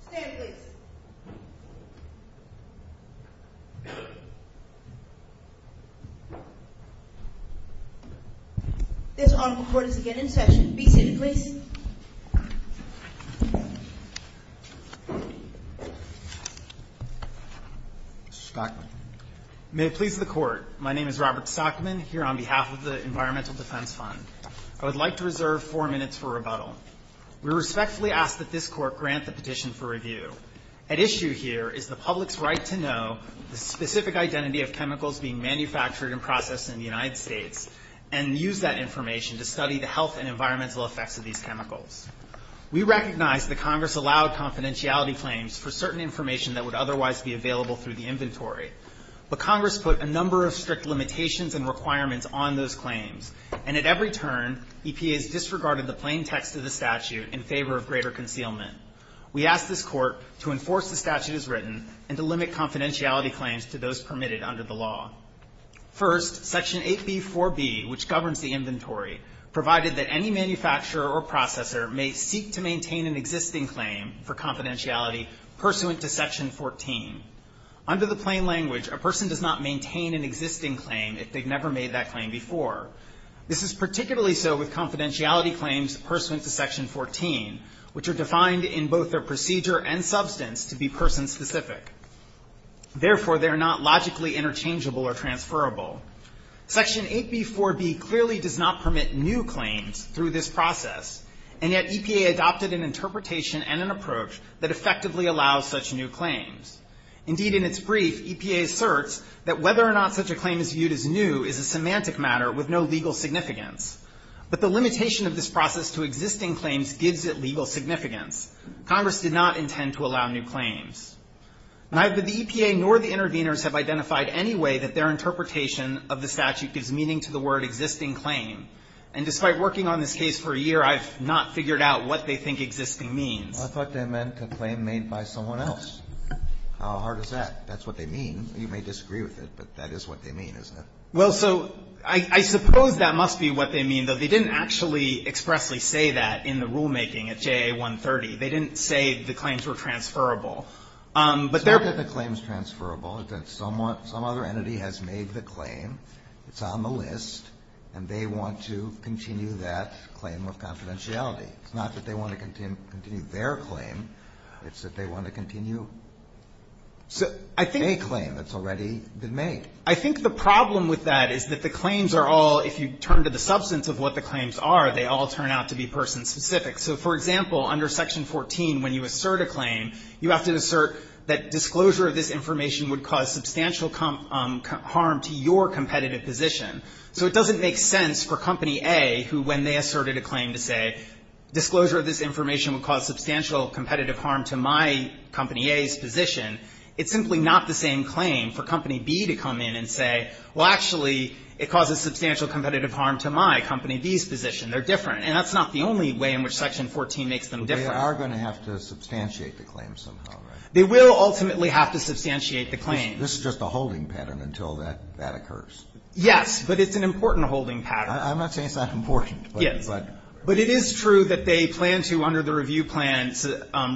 Stand, please. This Honorable Court is again in session. Be seated, please. Mr. Stockman. May it please the Court, my name is Robert Stockman, here on behalf of the Environmental Defense Fund. I would like to reserve four minutes for rebuttal. We respectfully ask that this Court grant the petition for review. At issue here is the public's right to know the specific identity of chemicals being manufactured and processed in the United States and use that information to study the health and environmental effects of these chemicals. We recognize that Congress allowed confidentiality claims for certain information that would otherwise be available through the inventory, but Congress put a number of strict limitations and requirements on those claims, and at every turn, EPA has disregarded the plain text of the statute in favor of greater concealment. We ask this Court to enforce the statute as written and to limit confidentiality claims to those permitted under the law. First, Section 8b4b, which governs the inventory, provided that any manufacturer or processor may seek to maintain an existing claim for confidentiality pursuant to Section 14. Under the plain language, a person does not maintain an existing claim if they've never made that claim before. This is particularly so with confidentiality claims pursuant to Section 14, which are defined in both their procedure and substance to be person-specific. Therefore, they are not logically interchangeable or transferable. Section 8b4b clearly does not permit new claims through this process, and yet EPA adopted an interpretation and an approach that effectively allows such new claims. Indeed, in its brief, EPA asserts that whether or not such a claim is viewed as new is a semantic matter with no legal significance. But the limitation of this process to existing claims gives it legal significance. Congress did not intend to allow new claims. Neither the EPA nor the interveners have identified any way that their interpretation of the statute gives meaning to the word existing claim, and despite working on this case for a year, I've not figured out what they think existing means. I thought they meant a claim made by someone else. How hard is that? That's what they mean. You may disagree with it, but that is what they mean, isn't it? Well, so I suppose that must be what they mean, though. They didn't actually expressly say that in the rulemaking at JA 130. They didn't say the claims were transferable. It's not that the claim is transferable. It's that some other entity has made the claim, it's on the list, and they want to continue that claim of confidentiality. It's not that they want to continue their claim. It's that they want to continue a claim that's already been made. I think the problem with that is that the claims are all, if you turn to the substance of what the claims are, they all turn out to be person-specific. So, for example, under Section 14, when you assert a claim, you have to assert that disclosure of this information would cause substantial harm to your competitive position. So it doesn't make sense for Company A, who when they asserted a claim to say disclosure of this information would cause substantial competitive harm to my Company A's position, it's simply not the same claim for Company B to come in and say, well, actually, it causes substantial competitive harm to my Company B's position. They're different. And that's not the only way in which Section 14 makes them different. They are going to have to substantiate the claim somehow, right? They will ultimately have to substantiate the claim. This is just a holding pattern until that occurs. Yes, but it's an important holding pattern. I'm not saying it's not important. Yes. But it is true that they plan to, under the review plan,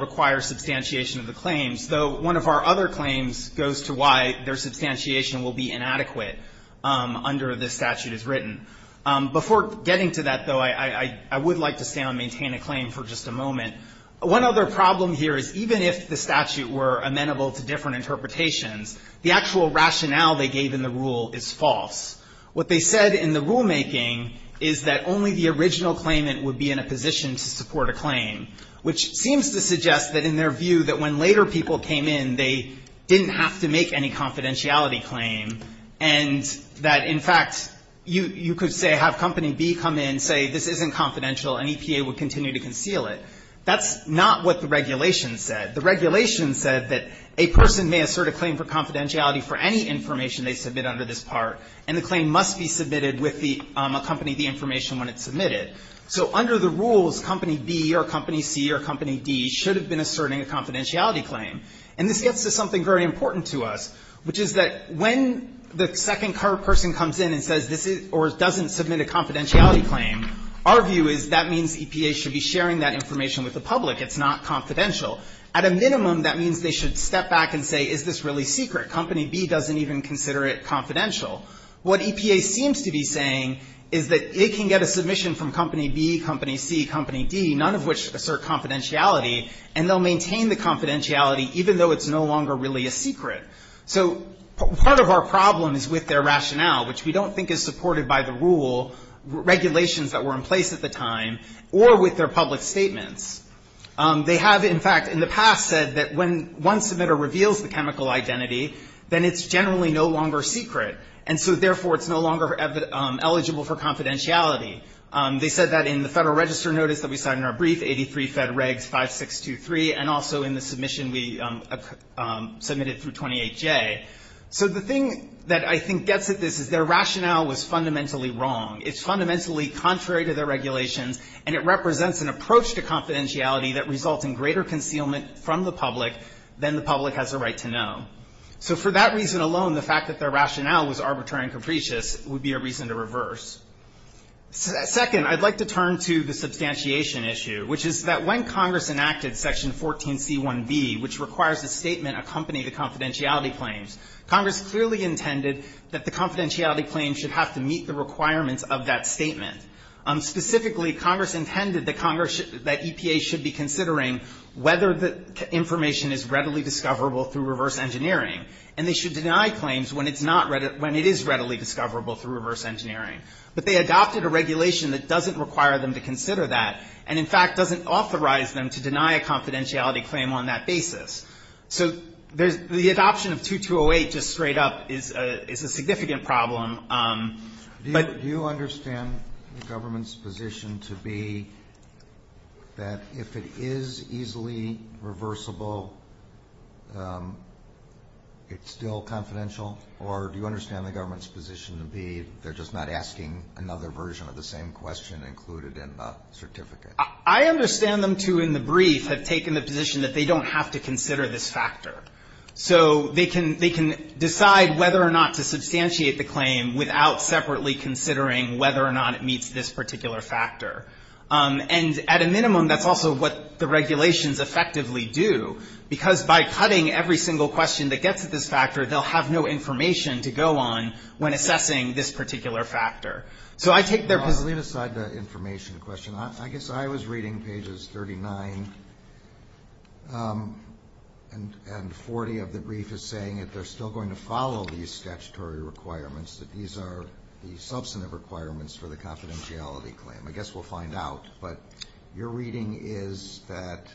require substantiation of the claims, though one of our other claims goes to why their substantiation will be inadequate under the statute as written. Before getting to that, though, I would like to stay on maintain a claim for just a moment. One other problem here is even if the statute were amenable to different interpretations, the actual rationale they gave in the rule is false. What they said in the rulemaking is that only the original claimant would be in a position to support a claim, which seems to suggest that in their view that when later people came in, they didn't have to make any confidentiality claim, and that, in fact, you could say have Company B come in, say this isn't confidential, and EPA would continue to conceal it. That's not what the regulation said. The regulation said that a person may assert a claim for confidentiality for any information they submit under this part, and the claim must be submitted with the company, the information when it's submitted. So under the rules, Company B or Company C or Company D should have been asserting a confidentiality claim. And this gets to something very important to us, which is that when the second person comes in and says this is or doesn't submit a confidentiality claim, our view is that means EPA should be sharing that information with the public. It's not confidential. At a minimum, that means they should step back and say, is this really secret? Company B doesn't even consider it confidential. What EPA seems to be saying is that it can get a submission from Company B, Company C, Company D, none of which assert confidentiality, and they'll maintain the confidentiality even though it's no longer really a secret. So part of our problem is with their rationale, which we don't think is supported by the rule, regulations that were in place at the time, or with their public statements. They have, in fact, in the past said that when one submitter reveals the chemical identity, then it's generally no longer secret. And so therefore, it's no longer eligible for confidentiality. They said that in the Federal Register notice that we cited in our brief, 83 Fed Regs 5623, and also in the submission we submitted through 28J. So the thing that I think gets at this is their rationale was fundamentally wrong. It's fundamentally contrary to their regulations, and it represents an approach to confidentiality that results in greater concealment from the public than the public has a right to know. So for that reason alone, the fact that their rationale was arbitrary and capricious would be a reason to reverse. Second, I'd like to turn to the substantiation issue, which is that when Congress enacted Section 14c1b, which requires a statement accompanying the confidentiality claims, Congress clearly intended that the confidentiality claims should have to meet the requirements of that statement. Specifically, Congress intended that Congress, that EPA should be considering whether the information is readily discoverable through reverse engineering, and they should deny claims when it's not, when it is readily discoverable through reverse engineering. But they adopted a regulation that doesn't require them to consider that, and in fact doesn't authorize them to deny a confidentiality claim on that basis. So the adoption of 2208 just straight up is a significant problem. But do you understand the government's position to be that if it is easily reversible, it's still confidential? Or do you understand the government's position to be they're just not asking another version of the same question included in the certificate? I understand them to, in the brief, have taken the position that they don't have to consider this factor. So they can decide whether or not to substantiate the claim without separately considering whether or not it meets this particular factor. And at a minimum, that's also what the regulations effectively do, because by cutting every single question that gets at this factor, they'll have no information to go on when assessing this particular factor. So I take their position. Let's leave aside the information question. I guess I was reading pages 39 and 40 of the brief as saying that they're still going to follow these statutory requirements, that these are the substantive requirements for the confidentiality claim. I guess we'll find out. But your reading is that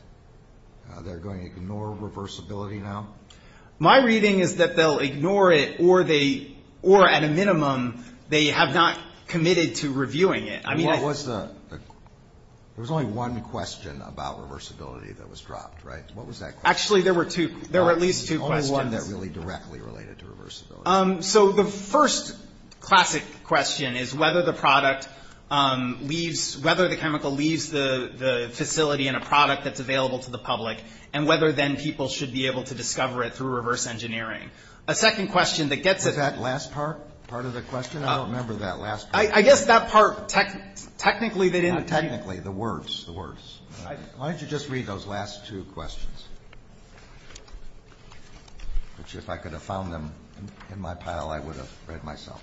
they're going to ignore reversibility now? My reading is that they'll ignore it, or at a minimum, they have not committed to reviewing it. There was only one question about reversibility that was dropped, right? What was that question? Actually, there were two. There were at least two questions. The only one that really directly related to reversibility. So the first classic question is whether the product leaves, whether the chemical leaves the facility in a product that's available to the public, and whether then people should be able to discover it through reverse engineering. A second question that gets at that. Was that last part of the question? I don't remember that last part. I guess that part technically they didn't. Technically, the words, the words. Why don't you just read those last two questions? Which, if I could have found them in my pile, I would have read myself.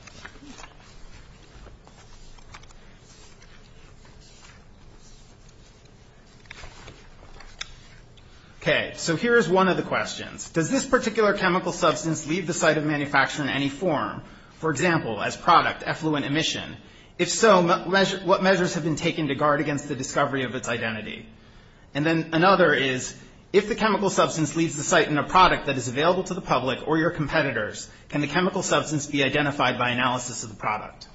Okay. So here is one of the questions. Does this particular chemical substance leave the site of manufacture in any form? For example, as product, effluent emission. If so, what measures have been taken to guard against the discovery of its identity? And then another is, if the chemical substance leaves the site in a product that is available to the public or your competitors, can the chemical substance be identified by analysis of the product?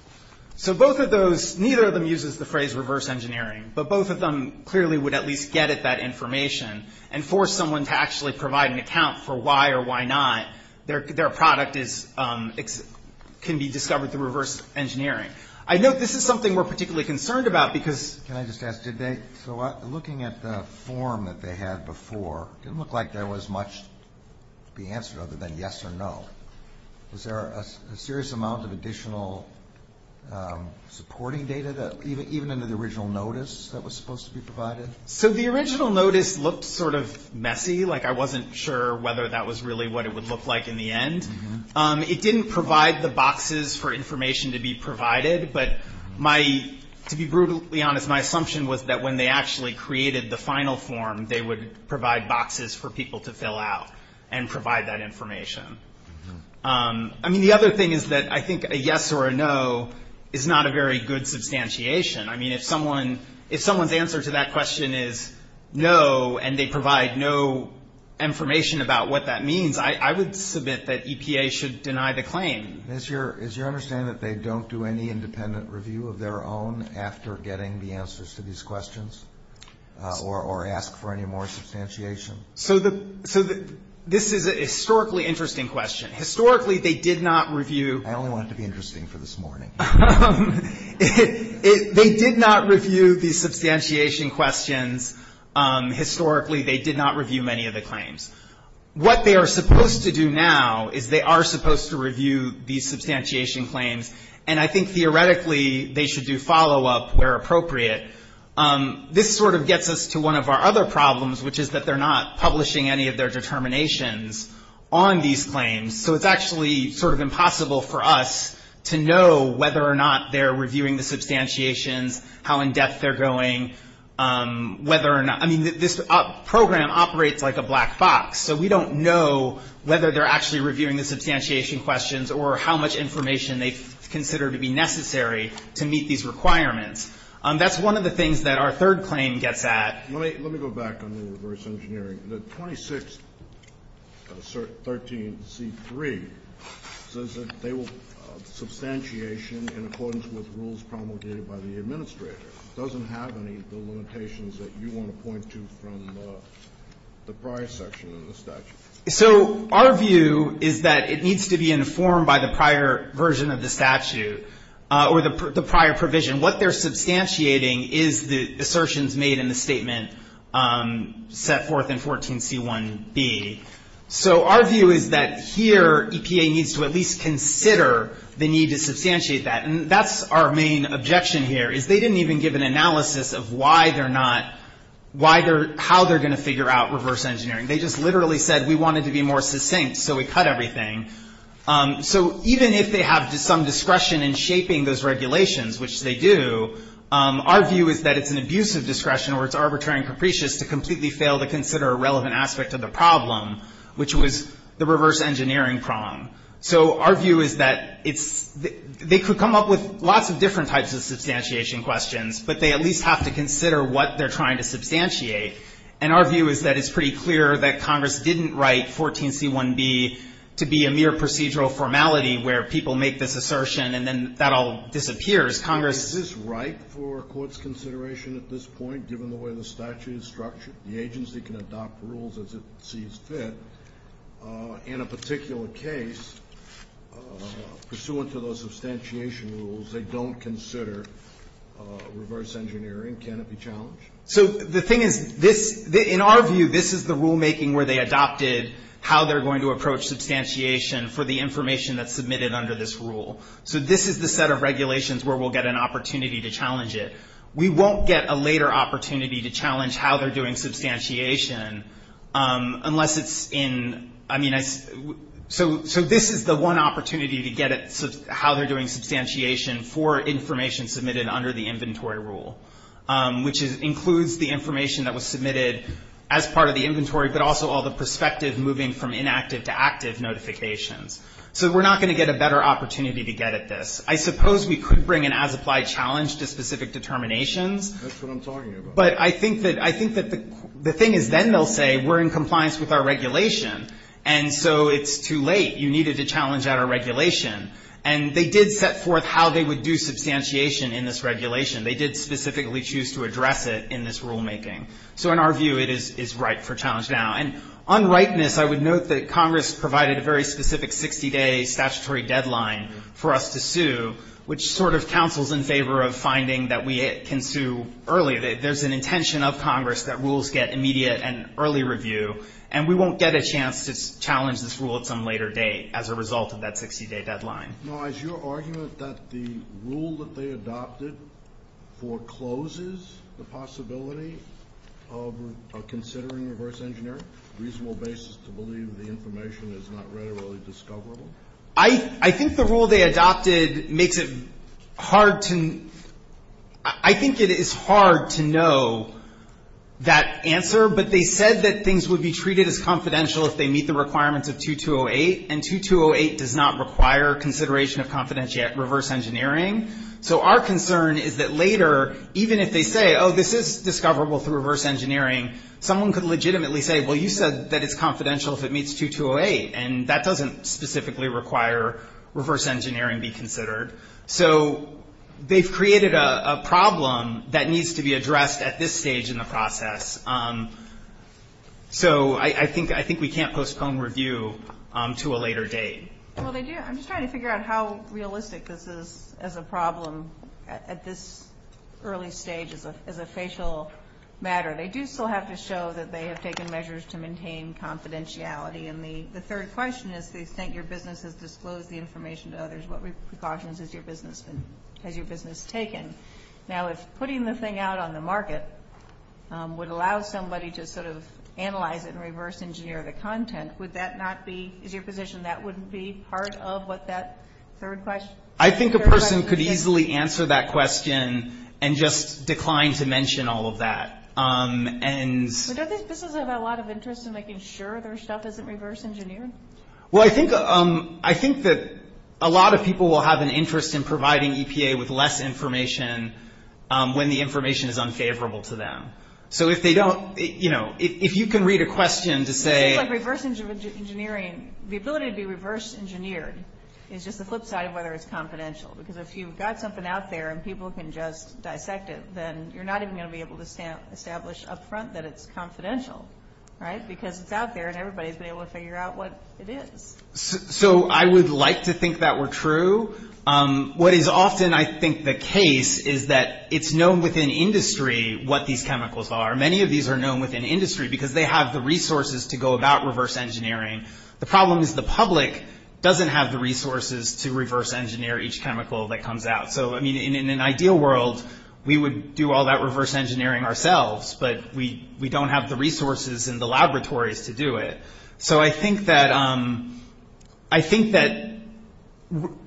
So both of those, neither of them uses the phrase reverse engineering, but both of them clearly would at least get at that information and force someone to actually provide an account for why or why not their product is, can be discovered through reverse engineering. I know this is something we're particularly concerned about because. Can I just ask, did they, so looking at the form that they had before, it didn't look like there was much to be answered other than yes or no. Was there a serious amount of additional supporting data that, even under the original notice that was supposed to be provided? So the original notice looked sort of messy, like I wasn't sure whether that was really what it would look like in the end. It didn't provide the boxes for information to be provided, but my, to be brutally honest, my assumption was that when they actually created the final form, they would provide boxes for people to fill out and provide that information. I mean, the other thing is that I think a yes or a no is not a very good substantiation. I mean, if someone's answer to that question is no and they provide no information about what that means, I would submit that EPA should deny the claim. Is your understanding that they don't do any independent review of their own after getting the answers to these questions or ask for any more substantiation? So this is a historically interesting question. Historically, they did not review. I only want it to be interesting for this morning. They did not review the substantiation questions. Historically, they did not review many of the claims. What they are supposed to do now is they are supposed to review these substantiation claims, and I think theoretically they should do follow-up where appropriate. This sort of gets us to one of our other problems, which is that they're not publishing any of their determinations on these claims. So it's actually sort of impossible for us to know whether or not they're reviewing the substantiations, how in-depth they're going, whether or not. I mean, this program operates like a black box, so we don't know whether they're actually reviewing the substantiation questions or how much information they consider to be necessary to meet these requirements. That's one of the things that our third claim gets at. Let me go back on the reverse engineering. The 2613C3 says that they will substantiation in accordance with rules promulgated by the administrator. It doesn't have any of the limitations that you want to point to from the prior section of the statute. So our view is that it needs to be informed by the prior version of the statute or the prior provision. And what they're substantiating is the assertions made in the statement set forth in 14C1B. So our view is that here EPA needs to at least consider the need to substantiate that. And that's our main objection here, is they didn't even give an analysis of why they're not, how they're going to figure out reverse engineering. They just literally said we wanted to be more succinct, so we cut everything. So even if they have some discretion in shaping those regulations, which they do, our view is that it's an abuse of discretion or it's arbitrary and capricious to completely fail to consider a relevant aspect of the problem, which was the reverse engineering prong. So our view is that it's, they could come up with lots of different types of substantiation questions, but they at least have to consider what they're trying to substantiate. And our view is that it's pretty clear that Congress didn't write 14C1B to be a mere procedural formality where people make this assertion and then that all disappears. Congress ---- Is this right for a court's consideration at this point, given the way the statute is structured? The agency can adopt rules as it sees fit. In a particular case, pursuant to those substantiation rules, they don't consider reverse engineering. Can it be challenged? So the thing is, in our view, this is the rulemaking where they adopted how they're going to approach substantiation for the information that's submitted under this rule. So this is the set of regulations where we'll get an opportunity to challenge it. We won't get a later opportunity to challenge how they're doing substantiation unless it's in, I mean, so this is the one opportunity to get at how they're doing inventory rule, which includes the information that was submitted as part of the inventory but also all the perspective moving from inactive to active notifications. So we're not going to get a better opportunity to get at this. I suppose we could bring an as-applied challenge to specific determinations. That's what I'm talking about. But I think that the thing is then they'll say we're in compliance with our regulation and so it's too late. You needed to challenge our regulation. And they did set forth how they would do substantiation in this regulation. They did specifically choose to address it in this rulemaking. So in our view, it is right for challenge now. And on rightness, I would note that Congress provided a very specific 60-day statutory deadline for us to sue, which sort of counsels in favor of finding that we can sue early. There's an intention of Congress that rules get immediate and early review, and we won't get a chance to challenge this rule at some later date as a result of that 60-day deadline. Now, is your argument that the rule that they adopted forecloses the possibility of considering reverse engineering, a reasonable basis to believe the information is not readily discoverable? I think the rule they adopted makes it hard to – I think it is hard to know that answer. But they said that things would be treated as confidential if they meet the requirements of 2208, and 2208 does not require consideration of reverse engineering. So our concern is that later, even if they say, oh, this is discoverable through reverse engineering, someone could legitimately say, well, you said that it's confidential if it meets 2208, and that doesn't specifically require reverse engineering be considered. So they've created a problem that needs to be addressed at this stage in the process. So I think we can't postpone review to a later date. Well, they do. I'm just trying to figure out how realistic this is as a problem at this early stage as a facial matter. They do still have to show that they have taken measures to maintain confidentiality. And the third question is they think your business has disclosed the information to others. What precautions has your business taken? Now, if putting the thing out on the market would allow somebody to sort of analyze it and reverse engineer the content, would that not be – is your position that wouldn't be part of what that third question? I think a person could easily answer that question and just decline to mention all of that. But don't these businesses have a lot of interest in making sure their stuff isn't reverse engineered? Well, I think that a lot of people will have an interest in providing EPA with less information when the information is unfavorable to them. So if they don't – if you can read a question to say – It seems like reverse engineering – the ability to be reverse engineered is just the flip side of whether it's confidential, because if you've got something out there and people can just dissect it, then you're not even going to be able to establish up front that it's confidential, right, because it's out there and everybody's been able to figure out what it is. So I would like to think that were true. What is often, I think, the case is that it's known within industry what these chemicals are. Many of these are known within industry because they have the resources to go about reverse engineering. The problem is the public doesn't have the resources to reverse engineer each chemical that comes out. So, I mean, in an ideal world, we would do all that reverse engineering ourselves, but we don't have the resources and the laboratories to do it. So I think that – I think that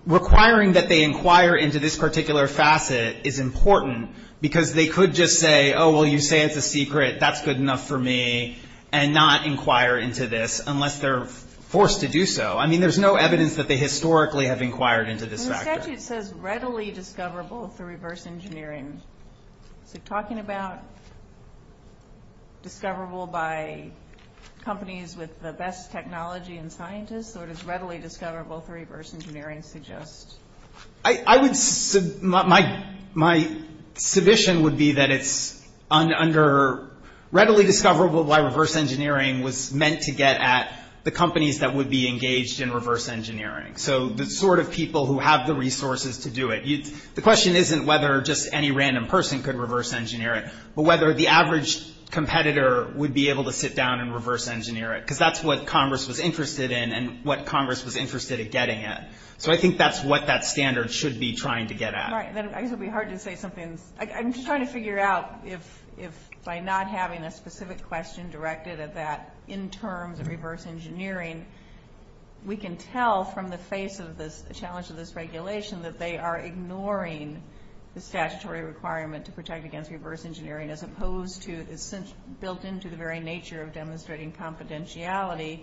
requiring that they inquire into this particular facet is important, because they could just say, oh, well, you say it's a secret, that's good enough for me, and not inquire into this unless they're forced to do so. I mean, there's no evidence that they historically have inquired into this factor. It says readily discoverable through reverse engineering. Is it talking about discoverable by companies with the best technology and scientists, or does readily discoverable through reverse engineering suggest? I would – my submission would be that it's under – readily discoverable by reverse engineering was meant to get at the companies that would be engaged in reverse engineering. So the sort of people who have the resources to do it. The question isn't whether just any random person could reverse engineer it, but whether the average competitor would be able to sit down and reverse engineer it, because that's what Congress was interested in and what Congress was interested in getting at. So I think that's what that standard should be trying to get at. All right. Then I guess it would be hard to say something – I'm just trying to figure out if by not having a specific question directed at that in terms of reverse engineering, we can tell from the face of the challenge of this regulation that they are ignoring the statutory requirement to protect against reverse engineering as opposed to – it's built into the very nature of demonstrating confidentiality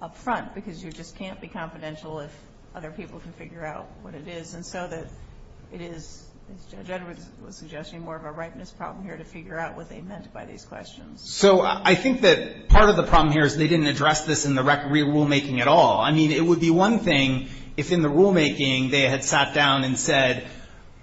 up front, because you just can't be confidential if other people can figure out what it is. And so that it is, as Judge Edwards was suggesting, more of a ripeness problem here to figure out what they meant by these questions. So I think that part of the problem here is they didn't address this in the rulemaking at all. I mean, it would be one thing if in the rulemaking they had sat down and said,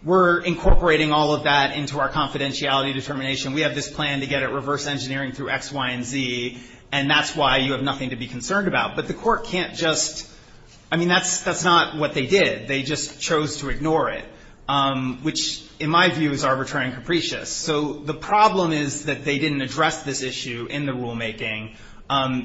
we're incorporating all of that into our confidentiality determination. We have this plan to get at reverse engineering through X, Y, and Z, and that's why you have nothing to be concerned about. But the Court can't just – I mean, that's not what they did. They just chose to ignore it, which in my view is arbitrary and capricious. So the problem is that they didn't address this issue in the rulemaking.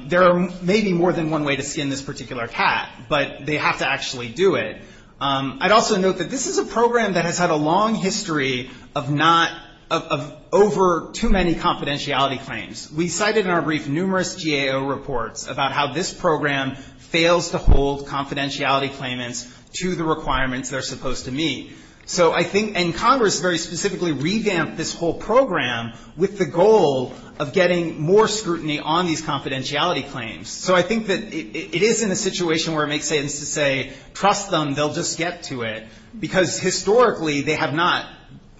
There may be more than one way to skin this particular cat, but they have to actually do it. I'd also note that this is a program that has had a long history of not – of over too many confidentiality claims. We cited in our brief numerous GAO reports about how this program fails to hold confidentiality claimants to the requirements they're supposed to meet. So I think – and Congress very specifically revamped this whole program with the goal of getting more scrutiny on these confidentiality claims. So I think that it is in a situation where it makes sense to say, trust them, they'll just get to it, because historically they have not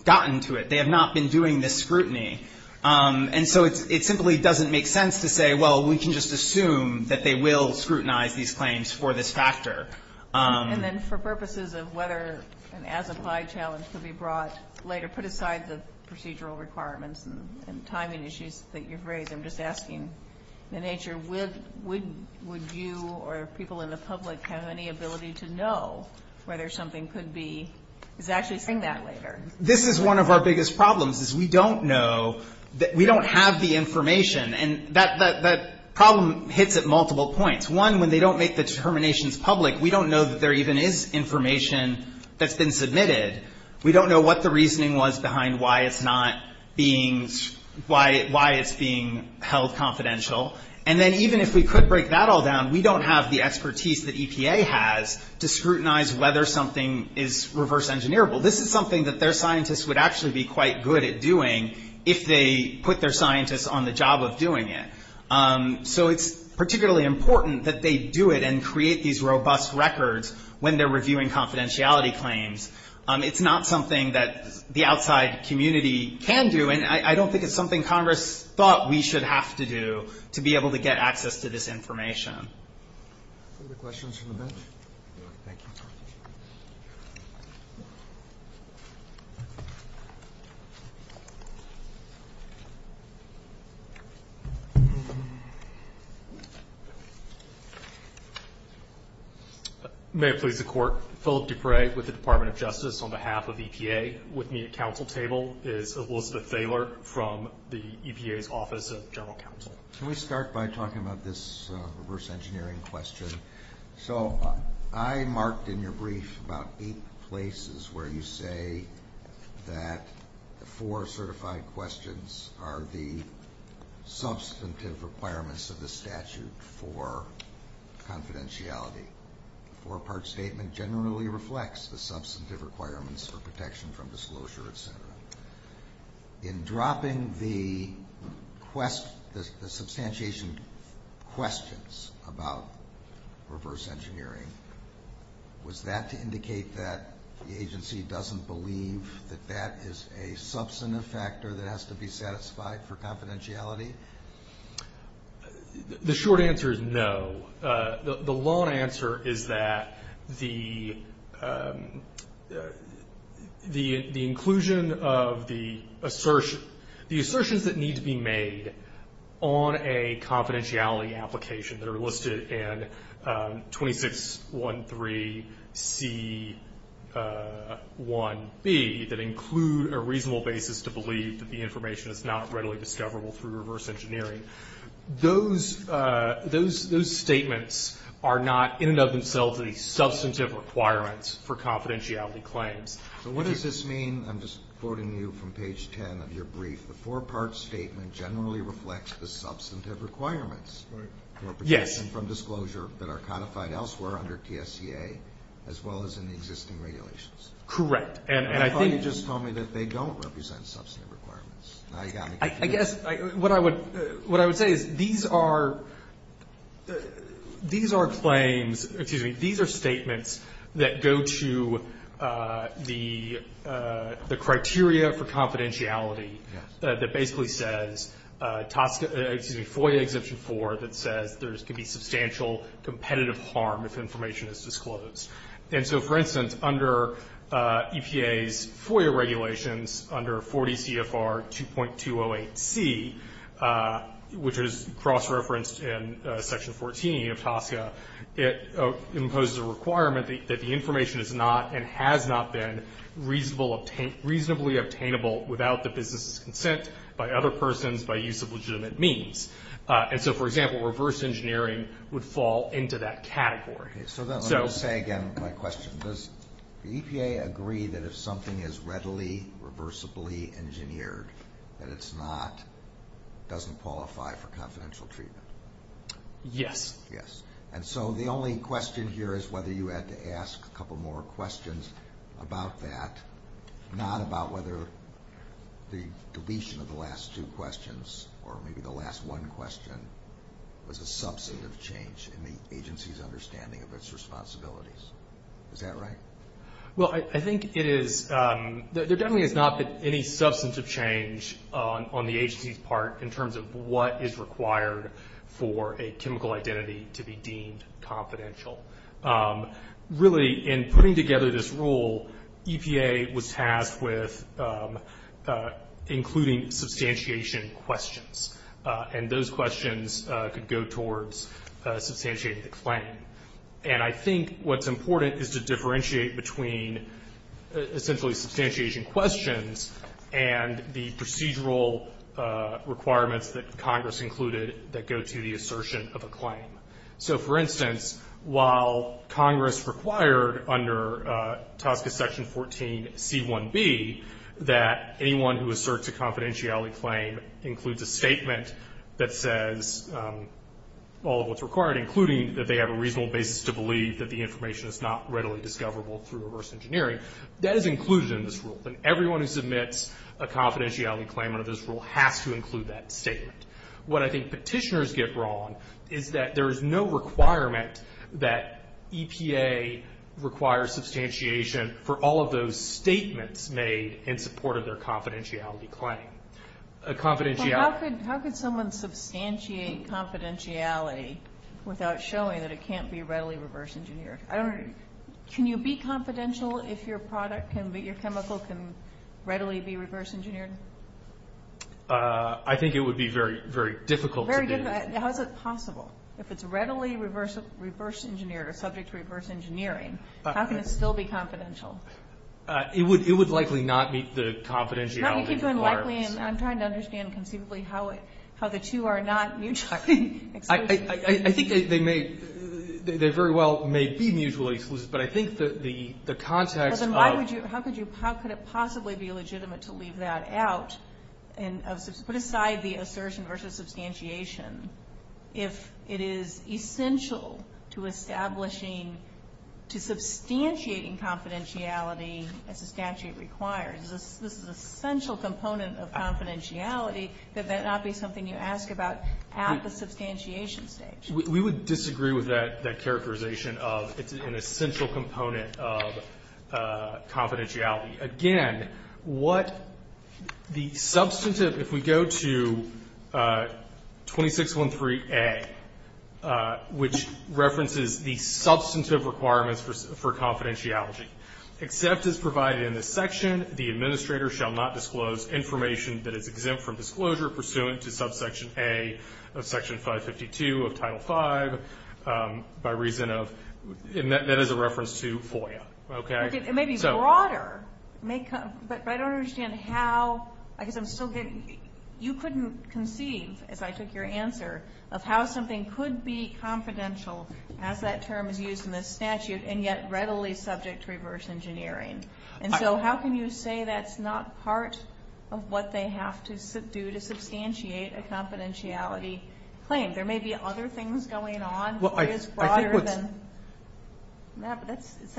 gotten to it. They have not been doing this scrutiny. And so it simply doesn't make sense to say, well, we can just assume that they will scrutinize these claims for this factor. And then for purposes of whether an as-applied challenge could be brought later, put aside the procedural requirements and timing issues that you've raised. I'm just asking, in nature, would you or people in the public have any ability to know whether something could be – is actually saying that later? This is one of our biggest problems, is we don't know – we don't have the information. And that problem hits at multiple points. One, when they don't make the determinations public, we don't know that there even is information that's been submitted. We don't know what the reasoning was behind why it's not being – why it's being held confidential. And then even if we could break that all down, we don't have the expertise that EPA has to scrutinize whether something is reverse-engineerable. This is something that their scientists would actually be quite good at doing if they put their scientists on the job of doing it. So it's particularly important that they do it and create these robust records when they're reviewing confidentiality claims. It's not something that the outside community can do, and I don't think it's something Congress thought we should have to do to be able to get access to this information. Other questions from the bench? Thank you. May it please the Court. Philip Dupre with the Department of Justice on behalf of EPA. With me at council table is Elizabeth Thaler from the EPA's Office of General Counsel. Can we start by talking about this reverse-engineering question? So I marked in your brief about eight places where you say that the four certified questions are the substantive requirements of the statute for confidentiality. The four-part statement generally reflects the substantive requirements for protection from disclosure, et cetera. In dropping the substantiation questions about reverse-engineering, was that to indicate that the agency doesn't believe that that is a substantive factor that has to be satisfied for confidentiality? The short answer is no. The long answer is that the inclusion of the assertions that need to be made on a confidentiality application that are listed in 2613C1B that include a reasonable basis to believe that the information is not readily discoverable through reverse-engineering. Those statements are not in and of themselves the substantive requirements for confidentiality claims. So what does this mean? I'm just quoting you from page 10 of your brief. The four-part statement generally reflects the substantive requirements for protection from disclosure that are codified elsewhere under TSEA as well as in the existing regulations. Correct. I thought you just told me that they don't represent substantive requirements. I guess what I would say is these are claims, excuse me, these are statements that go to the criteria for confidentiality that basically says FOIA Exemption 4 that says there can be substantial competitive harm if information is disclosed. And so, for instance, under EPA's FOIA regulations under 40 CFR 2.208C, which is cross-referenced in Section 14 of TSEA, it imposes a requirement that the information is not and has not been reasonably obtainable without the business's consent by other persons by use of legitimate means. And so, for example, reverse-engineering would fall into that category. Okay, so let me say again my question. Does the EPA agree that if something is readily, reversibly engineered, that it doesn't qualify for confidential treatment? Yes. Yes. And so the only question here is whether you had to ask a couple more questions about that, not about whether the deletion of the last two questions or maybe the last one question was a substantive change in the agency's understanding of its responsibilities. Is that right? Well, I think it is. There definitely has not been any substantive change on the agency's part in terms of what is required for a chemical identity to be deemed confidential. Really, in putting together this rule, EPA was tasked with including substantiation questions. And those questions could go towards substantiating the claim. And I think what's important is to differentiate between essentially substantiation questions and the procedural requirements that Congress included that go to the assertion of a claim. So, for instance, while Congress required under TSCA Section 14c1b that anyone who asserts a confidentiality claim includes a statement that says all of what's required, including that they have a reasonable basis to believe that the information is not readily discoverable through reverse engineering, that is included in this rule. And everyone who submits a confidentiality claim under this rule has to include that statement. What I think petitioners get wrong is that there is no requirement that EPA requires substantiation for all of those statements made in support of their confidentiality claim. How could someone substantiate confidentiality without showing that it can't be readily reverse engineered? Can you be confidential if your chemical can readily be reverse engineered? I think it would be very, very difficult to do. How is it possible? If it's readily reverse engineered or subject to reverse engineering, how can it still be confidential? It would likely not meet the confidentiality requirements. I'm trying to understand conceivably how the two are not mutually exclusive. I think they very well may be mutually exclusive, but I think the context of How could it possibly be legitimate to leave that out and put aside the assertion versus substantiation if it is essential to establishing, to substantiating confidentiality as the statute requires? This is an essential component of confidentiality. That might not be something you ask about at the substantiation stage. We would disagree with that characterization of it's an essential component of confidentiality. Again, what the substantive, if we go to 2613A, which references the substantive requirements for confidentiality. Except as provided in this section, the administrator shall not disclose information that is exempt from disclosure pursuant to subsection A of section 552 of Title V by reason of, and that is a reference to FOIA. Okay. It may be broader, but I don't understand how, I guess I'm still getting, you couldn't conceive, as I took your answer, of how something could be confidential as that term is used in this statute and yet readily subject to reverse engineering. And so how can you say that's not part of what they have to do to substantiate a confidentiality claim? There may be other things going on. I just don't understand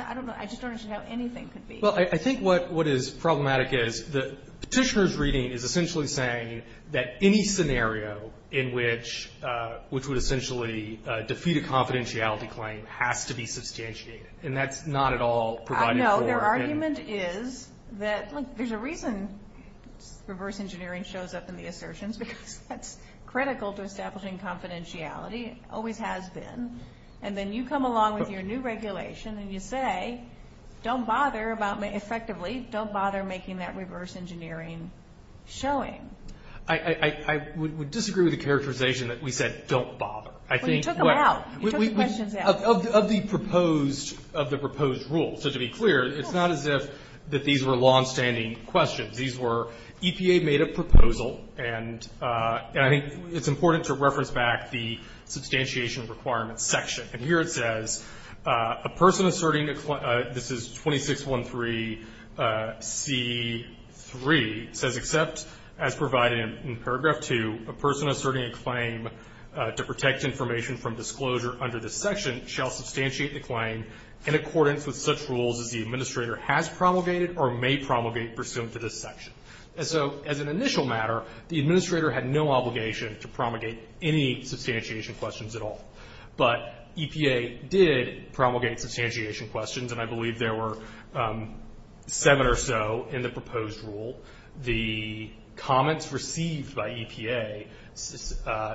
how anything could be. Well, I think what is problematic is the petitioner's reading is essentially saying that any scenario in which would essentially defeat a confidentiality claim has to be substantiated. And that's not at all provided for. I know. Their argument is that there's a reason reverse engineering shows up in the assertions because that's critical to establishing confidentiality. It always has been. And then you come along with your new regulation and you say, don't bother about, effectively, don't bother making that reverse engineering showing. I would disagree with the characterization that we said don't bother. Well, you took them out. You took the questions out. Of the proposed rules. So to be clear, it's not as if these were longstanding questions. These were EPA-made-up proposal. And I think it's important to reference back the substantiation requirements section. And here it says, a person asserting a claim, this is 2613C3. It says, except as provided in paragraph 2, a person asserting a claim to protect information from disclosure under this section shall substantiate the claim in accordance with such rules as the administrator has promulgated or may promulgate pursuant to this section. So as an initial matter, the administrator had no obligation to promulgate any substantiation questions at all. But EPA did promulgate substantiation questions, and I believe there were seven or so in the proposed rule. The comments received by EPA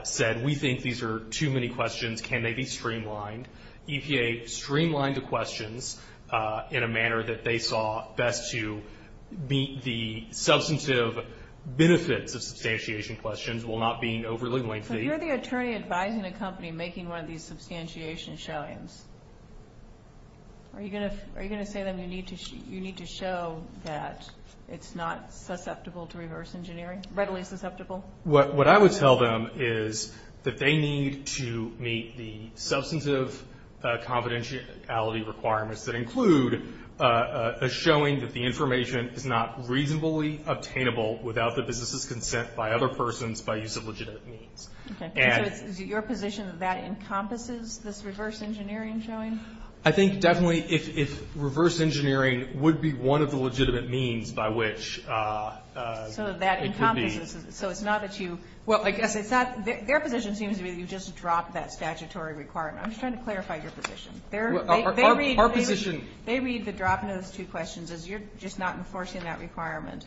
said, we think these are too many questions. Can they be streamlined? EPA streamlined the questions in a manner that they saw best to meet the substantive benefits of substantiation questions while not being overly lengthy. So you're the attorney advising a company making one of these substantiation showings. Are you going to say to them, you need to show that it's not susceptible to reverse engineering, readily susceptible? What I would tell them is that they need to meet the substantive confidentiality requirements that include a showing that the information is not reasonably obtainable without the business's consent by other persons by use of legitimate means. Okay. So is it your position that that encompasses this reverse engineering showing? I think definitely if reverse engineering would be one of the legitimate means by which it could be. So it's not that you – Well, I guess it's not – Their position seems to be that you just dropped that statutory requirement. I'm just trying to clarify your position. Our position – They read the drop in those two questions as you're just not enforcing that requirement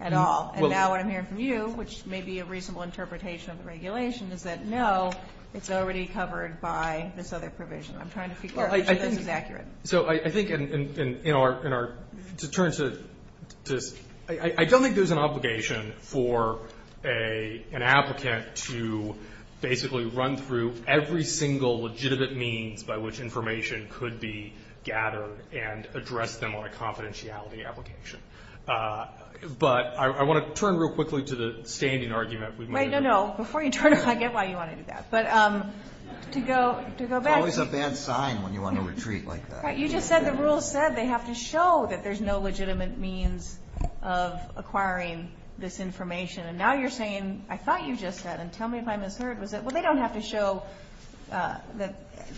at all. And now what I'm hearing from you, which may be a reasonable interpretation of the regulation, is that no, it's already covered by this other provision. I'm trying to figure out whether this is accurate. So I think in our – to turn to – I don't think there's an obligation for an applicant to basically run through every single legitimate means by which information could be gathered and address them on a confidentiality application. But I want to turn real quickly to the standing argument. Wait, no, no. Before you turn, I get why you want to do that. But to go back – It's always a bad sign when you want to retreat like that. But you just said the rules said they have to show that there's no legitimate means of acquiring this information. And now you're saying, I thought you just said, and tell me if I misheard, was that, well, they don't have to show that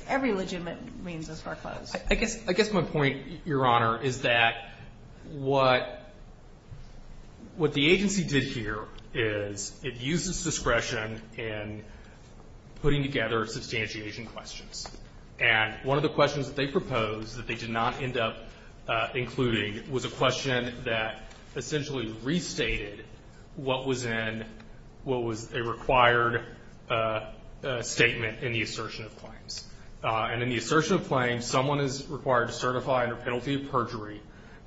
every legitimate means is foreclosed. I guess my point, Your Honor, is that what the agency did here is it used its discretion in putting together substantiation questions. And one of the questions that they proposed that they did not end up including was a question that essentially restated what was in – what was a required statement in the assertion of claims. And in the assertion of claims, someone is required to certify under penalty of perjury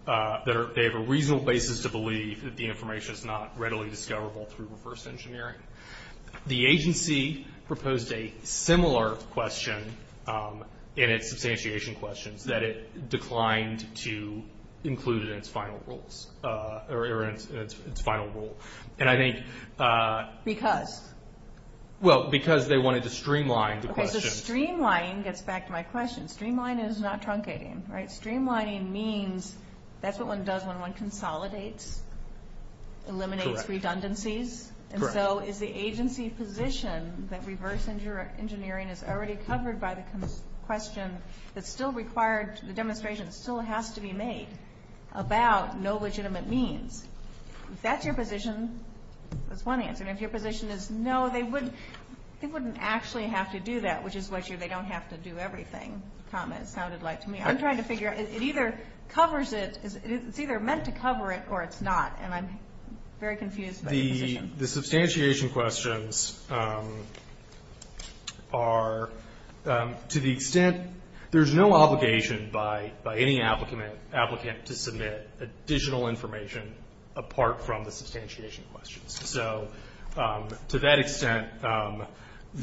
that they have a reasonable basis to believe that the information is not readily discoverable through reverse engineering. The agency proposed a similar question in its substantiation questions that it declined to include in its final rule. And I think – Because? Well, because they wanted to streamline the question. Okay, so streamlining gets back to my question. Streamlining is not truncating. Right? Streamlining means that's what one does when one consolidates, eliminates redundancies. Correct. And so is the agency position that reverse engineering is already covered by the question that still required – the demonstration still has to be made about no legitimate means, if that's your position, that's one answer. And if your position is no, they wouldn't actually have to do that, which is what your they don't have to do everything comment sounded like to me. I'm trying to figure out. It either covers it – it's either meant to cover it or it's not, and I'm very confused by the position. The substantiation questions are to the extent – there's no obligation by any applicant to submit additional information apart from the substantiation questions. So to that extent –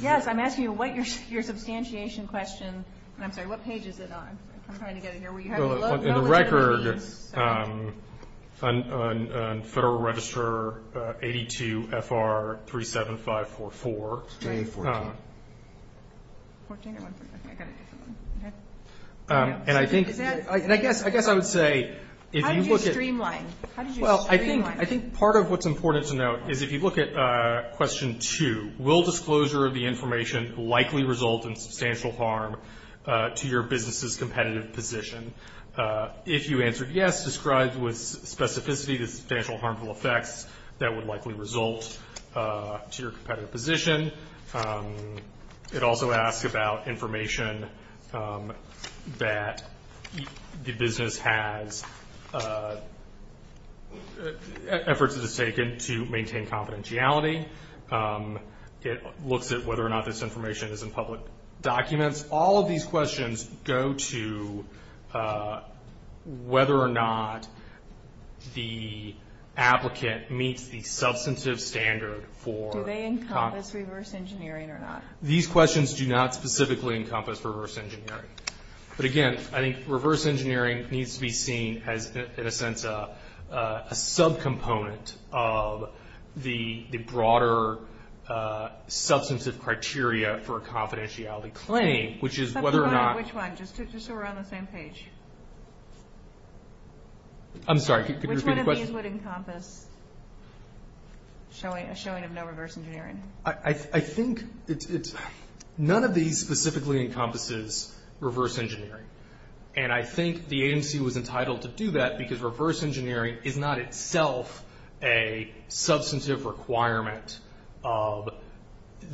Yes, I'm asking you what your substantiation question – I'm sorry. What page is it on? I'm trying to get it here. Well, in the record on Federal Register 82 FR 37544. 14. 14? I got it. Okay. And I think – Is that – And I guess I would say if you look at – How do you streamline? How do you streamline? Well, I think part of what's important to note is if you look at question two, will disclosure of the information likely result in substantial harm to your business's competitive position? If you answered yes, describe with specificity the substantial harmful effects that would likely result to your competitive position. It also asks about information that the business has – efforts it has taken to maintain confidentiality. It looks at whether or not this information is in public documents. All of these questions go to whether or not the applicant meets the substantive standard for – Do they encompass reverse engineering or not? These questions do not specifically encompass reverse engineering. But, again, I think reverse engineering needs to be seen as, in a sense, a subcomponent of the broader substantive criteria for a confidentiality claim, which is whether or not – Which one? Just so we're on the same page. I'm sorry. Could you repeat the question? These would encompass a showing of no reverse engineering. I think it's – none of these specifically encompasses reverse engineering. And I think the agency was entitled to do that because reverse engineering is not itself a substantive requirement of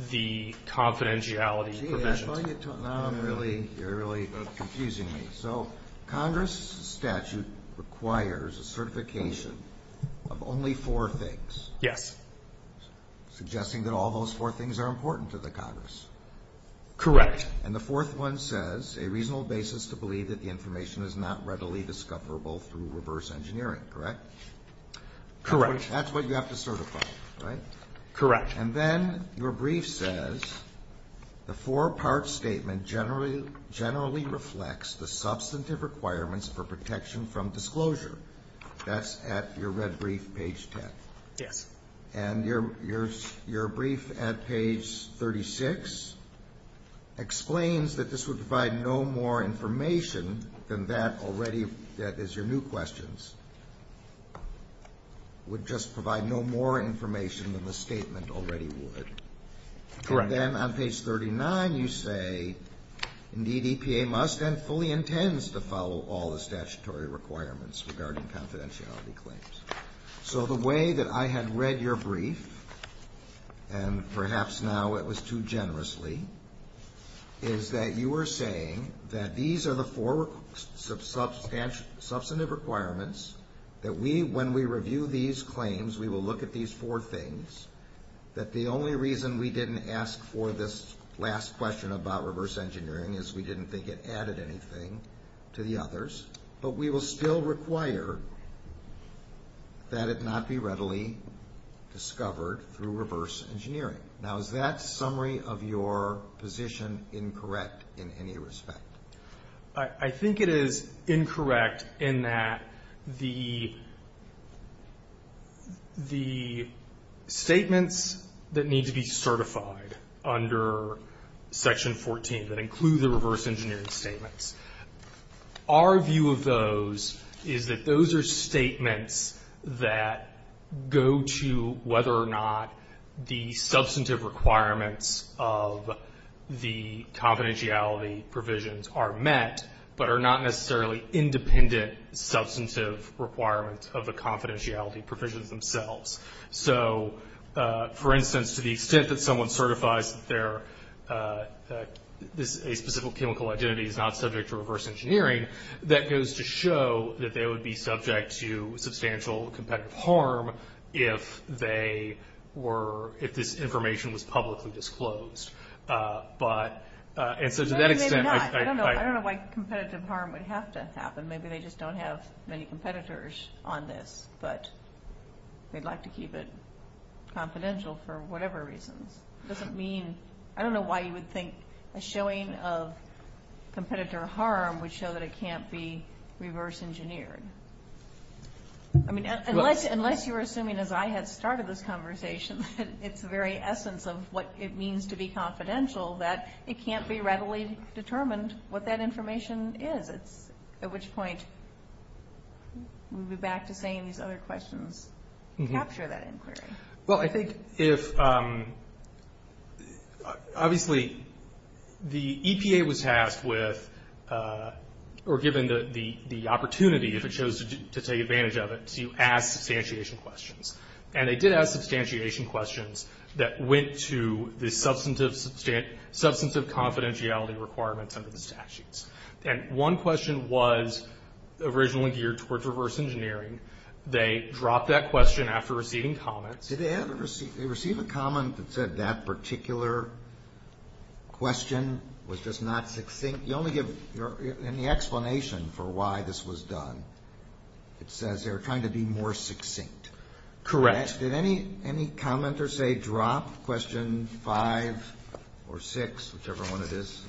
the confidentiality provision. Now you're really confusing me. So Congress statute requires a certification of only four things. Yes. Suggesting that all those four things are important to the Congress. Correct. And the fourth one says a reasonable basis to believe that the information is not readily discoverable through reverse engineering, correct? Correct. That's what you have to certify, right? Correct. And then your brief says the four-part statement generally reflects the substantive requirements for protection from disclosure. That's at your red brief, page 10. Yes. And your brief at page 36 explains that this would provide no more information than that already – that is, your new questions would just provide no more information than the statement already would. Correct. And then on page 39 you say, indeed, EPA must and fully intends to follow all the statutory requirements regarding confidentiality claims. So the way that I had read your brief, and perhaps now it was too generously, is that you were saying that these are the four substantive requirements, that we, when we review these claims, we will look at these four things, that the only reason we didn't ask for this last question about reverse engineering is we didn't think it added anything to the others, but we will still require that it not be readily discovered through reverse engineering. Now, is that summary of your position incorrect in any respect? I think it is incorrect in that the statements that need to be certified under Section 14 that include the reverse engineering statements Our view of those is that those are statements that go to whether or not the substantive requirements of the confidentiality provisions are met, but are not necessarily independent substantive requirements of the confidentiality provisions themselves. So, for instance, to the extent that someone certifies that a specific chemical identity is not subject to reverse engineering, that goes to show that they would be subject to substantial competitive harm if this information was publicly disclosed. Maybe not. I don't know why competitive harm would have to happen. Maybe they just don't have many competitors on this, but they'd like to keep it confidential for whatever reasons. It doesn't mean, I don't know why you would think a showing of competitor harm would show that it can't be reverse engineered. I mean, unless you're assuming, as I had started this conversation, that it's the very essence of what it means to be confidential, that it can't be readily determined what that information is. At which point, moving back to saying these other questions capture that inquiry. Well, I think if, obviously, the EPA was tasked with, or given the opportunity, if it chose to take advantage of it, to ask substantiation questions. And they did ask substantiation questions that went to the substantive confidentiality requirements under the statutes. And one question was originally geared towards reverse engineering. They dropped that question after receiving comments. Did they ever receive a comment that said that particular question was just not succinct? You only give any explanation for why this was done. It says they were trying to be more succinct. Correct. Did any commenter say drop question five or six, whichever one it is?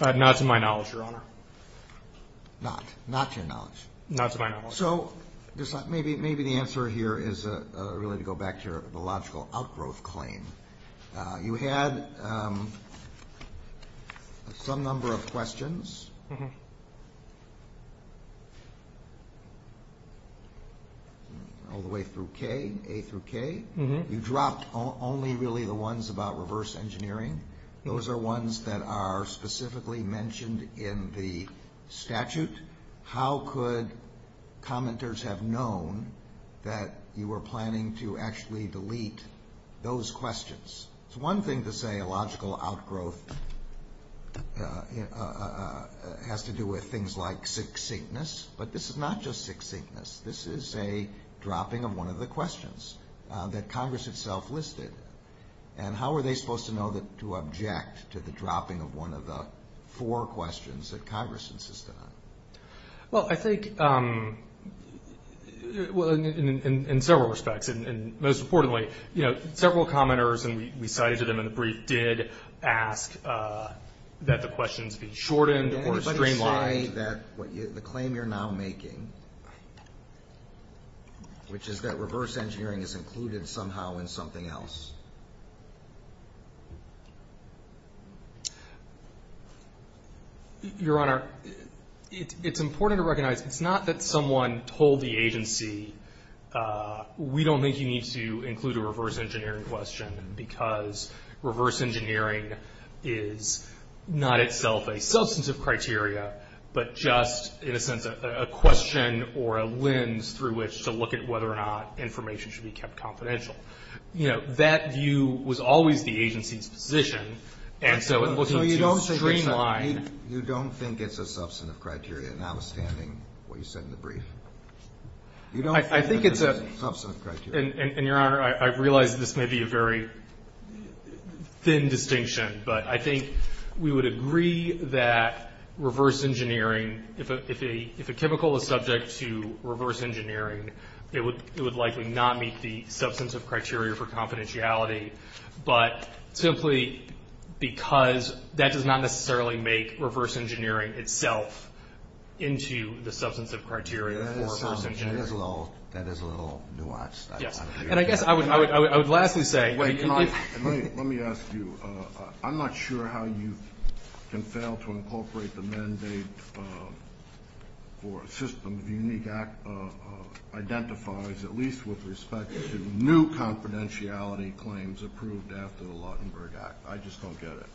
Not to my knowledge, Your Honor. Not to your knowledge? Not to my knowledge. So maybe the answer here is really to go back to the logical outgrowth claim. You had some number of questions all the way through K, A through K. You dropped only really the ones about reverse engineering. Those are ones that are specifically mentioned in the statute. How could commenters have known that you were planning to actually delete those questions? It's one thing to say a logical outgrowth has to do with things like succinctness. But this is not just succinctness. This is a dropping of one of the questions that Congress itself listed. How were they supposed to know to object to the dropping of one of the four questions that Congress insisted on? Well, I think in several respects. Most importantly, several commenters, and we cited them in the brief, did ask that the questions be shortened or streamlined. The claim you're now making, which is that reverse engineering is included somehow in something else. Your Honor, it's important to recognize it's not that someone told the agency, we don't think you need to include a reverse engineering question, because reverse engineering is not itself a substantive criteria, but just in a sense a question or a lens through which to look at whether or not information should be kept confidential. That view was always the agency's position, and so in looking to streamline. You don't think it's a substantive criteria, notwithstanding what you said in the brief? I think it's a substantive criteria. And, Your Honor, I realize this may be a very thin distinction, but I think we would agree that reverse engineering, if a chemical is subject to reverse engineering, it would likely not meet the substantive criteria for confidentiality, but simply because that does not necessarily make reverse engineering itself into the substantive criteria for reverse engineering. That is a little nuanced. And I guess I would lastly say. Let me ask you, I'm not sure how you can fail to incorporate the mandate for a system of unique identifiers, at least with respect to new confidentiality claims approved after the Lautenberg Act. I just don't get it.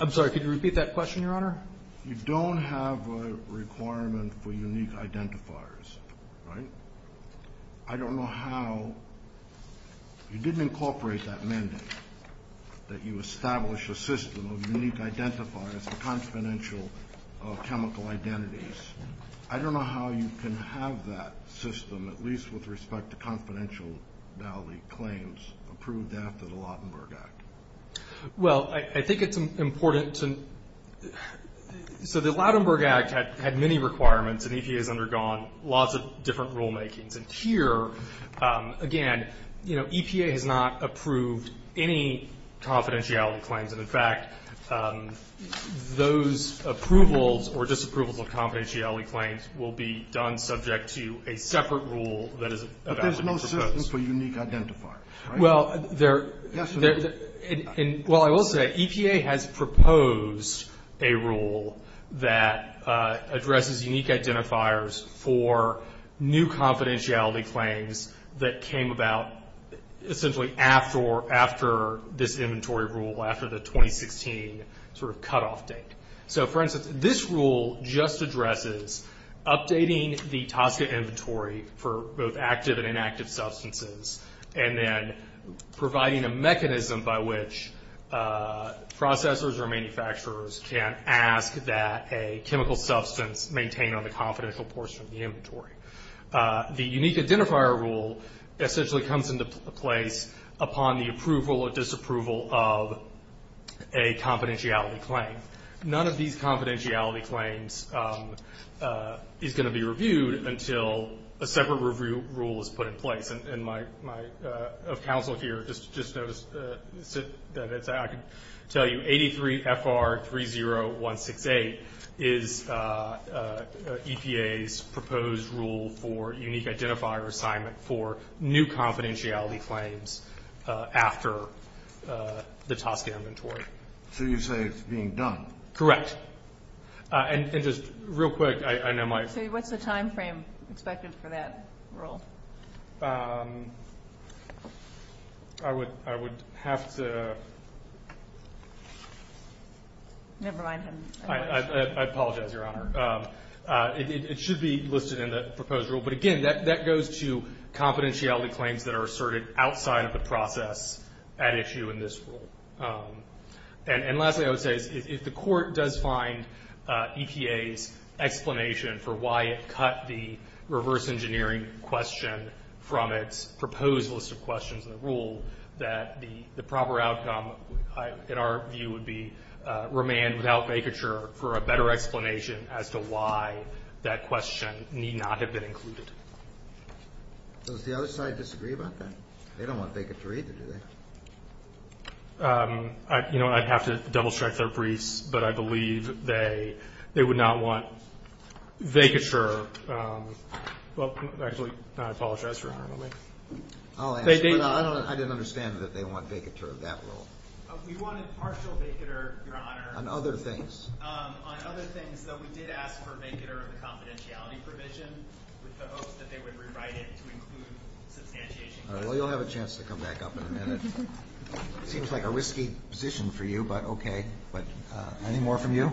I'm sorry, could you repeat that question, Your Honor? You don't have a requirement for unique identifiers, right? I don't know how. You didn't incorporate that mandate that you establish a system of unique identifiers for confidential chemical identities. I don't know how you can have that system, at least with respect to confidentiality claims, approved after the Lautenberg Act. Well, I think it's important to, so the Lautenberg Act had many requirements, and EPA has undergone lots of different rulemakings. And here, again, you know, EPA has not approved any confidentiality claims. And, in fact, those approvals or disapprovals of confidentiality claims will be done subject to a separate rule that is about to be proposed. But there's no system for unique identifiers, right? Yes, there is. Well, I will say, EPA has proposed a rule that addresses unique identifiers for new confidentiality claims that came about essentially after this inventory rule, after the 2016 sort of cutoff date. So, for instance, this rule just addresses updating the TSCA inventory for both active and inactive substances, and then providing a mechanism by which processors or manufacturers can ask that a chemical substance The unique identifier rule essentially comes into place upon the approval or disapproval of a confidentiality claim. None of these confidentiality claims is going to be reviewed until a separate review rule is put in place. And my counsel here just noticed that I can tell you 83 FR 30168 is EPA's proposed rule for unique identifier assignment for new confidentiality claims after the TSCA inventory. So you say it's being done? Correct. And just real quick, I know my So what's the timeframe expected for that rule? I would have to Never mind him. I apologize, Your Honor. It should be listed in the proposed rule. But again, that goes to confidentiality claims that are asserted outside of the process at issue in this rule. And lastly, I would say, if the Court does find EPA's explanation for why it cut the reverse engineering question from its proposed list of questions in the rule, that the proper outcome, in our view, would be remand without vacature for a better explanation as to why that question need not have been included. Does the other side disagree about that? They don't want vacature either, do they? You know, I'd have to double-check their briefs, but I believe they would not want vacature. Well, actually, I apologize for interrupting. I didn't understand that they want vacature of that rule. We wanted partial vacature, Your Honor. On other things. On other things, though, we did ask for vacature of the confidentiality provision with the hopes that they would rewrite it to include substantiation. All right. Well, you'll have a chance to come back up in a minute. It seems like a risky position for you, but okay. But any more from you?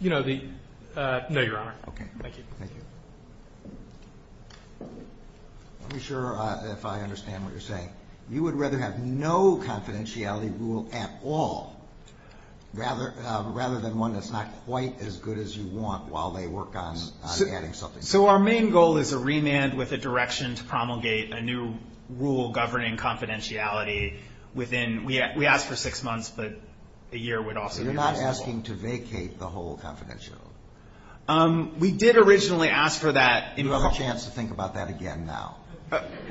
You know, the – no, Your Honor. Okay. Thank you. Thank you. Let me be sure if I understand what you're saying. You would rather have no confidentiality rule at all rather than one that's not quite as good as you want while they work on adding something to it? So our main goal is a remand with a direction to promulgate a new rule governing confidentiality within – we asked for six months, but a year would also be reasonable. So you're not asking to vacate the whole confidentiality? We did originally ask for that. You have a chance to think about that again now.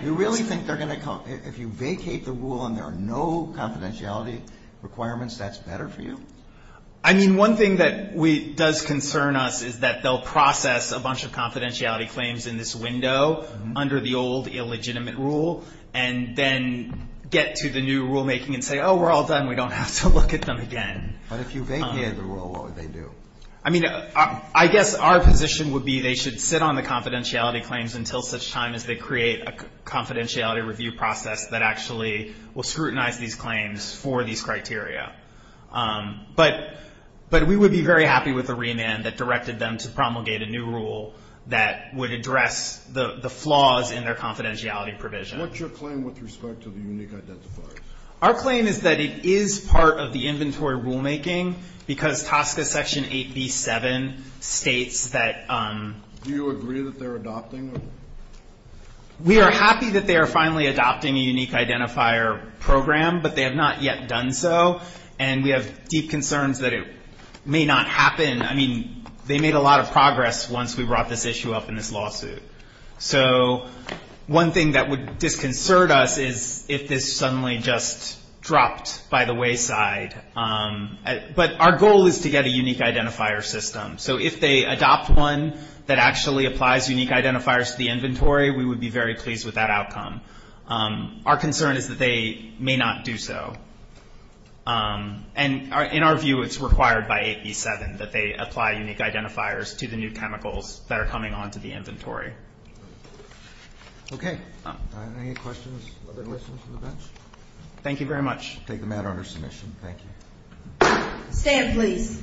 You really think they're going to come – if you vacate the rule and there are no confidentiality requirements, that's better for you? I mean, one thing that does concern us is that they'll process a bunch of confidentiality claims in this window under the old illegitimate rule and then get to the new rulemaking and say, oh, we're all done, we don't have to look at them again. But if you vacate the rule, what would they do? I mean, I guess our position would be they should sit on the confidentiality claims until such time as they create a confidentiality review process that actually will scrutinize these claims for these criteria. But we would be very happy with a remand that directed them to promulgate a new rule that would address the flaws in their confidentiality provision. What's your claim with respect to the unique identifiers? Our claim is that it is part of the inventory rulemaking because TSCA Section 8b-7 states that – Do you agree that they're adopting? We are happy that they are finally adopting a unique identifier program, but they have not yet done so, and we have deep concerns that it may not happen. I mean, they made a lot of progress once we brought this issue up in this lawsuit. So one thing that would disconcert us is if this suddenly just dropped by the wayside. But our goal is to get a unique identifier system. So if they adopt one that actually applies unique identifiers to the inventory, we would be very pleased with that outcome. Our concern is that they may not do so. And in our view, it's required by 8b-7 that they apply unique identifiers to the new chemicals that are coming onto the inventory. Okay. Any questions from the bench? Thank you very much. We'll take the matter under submission. Thank you. Stand, please.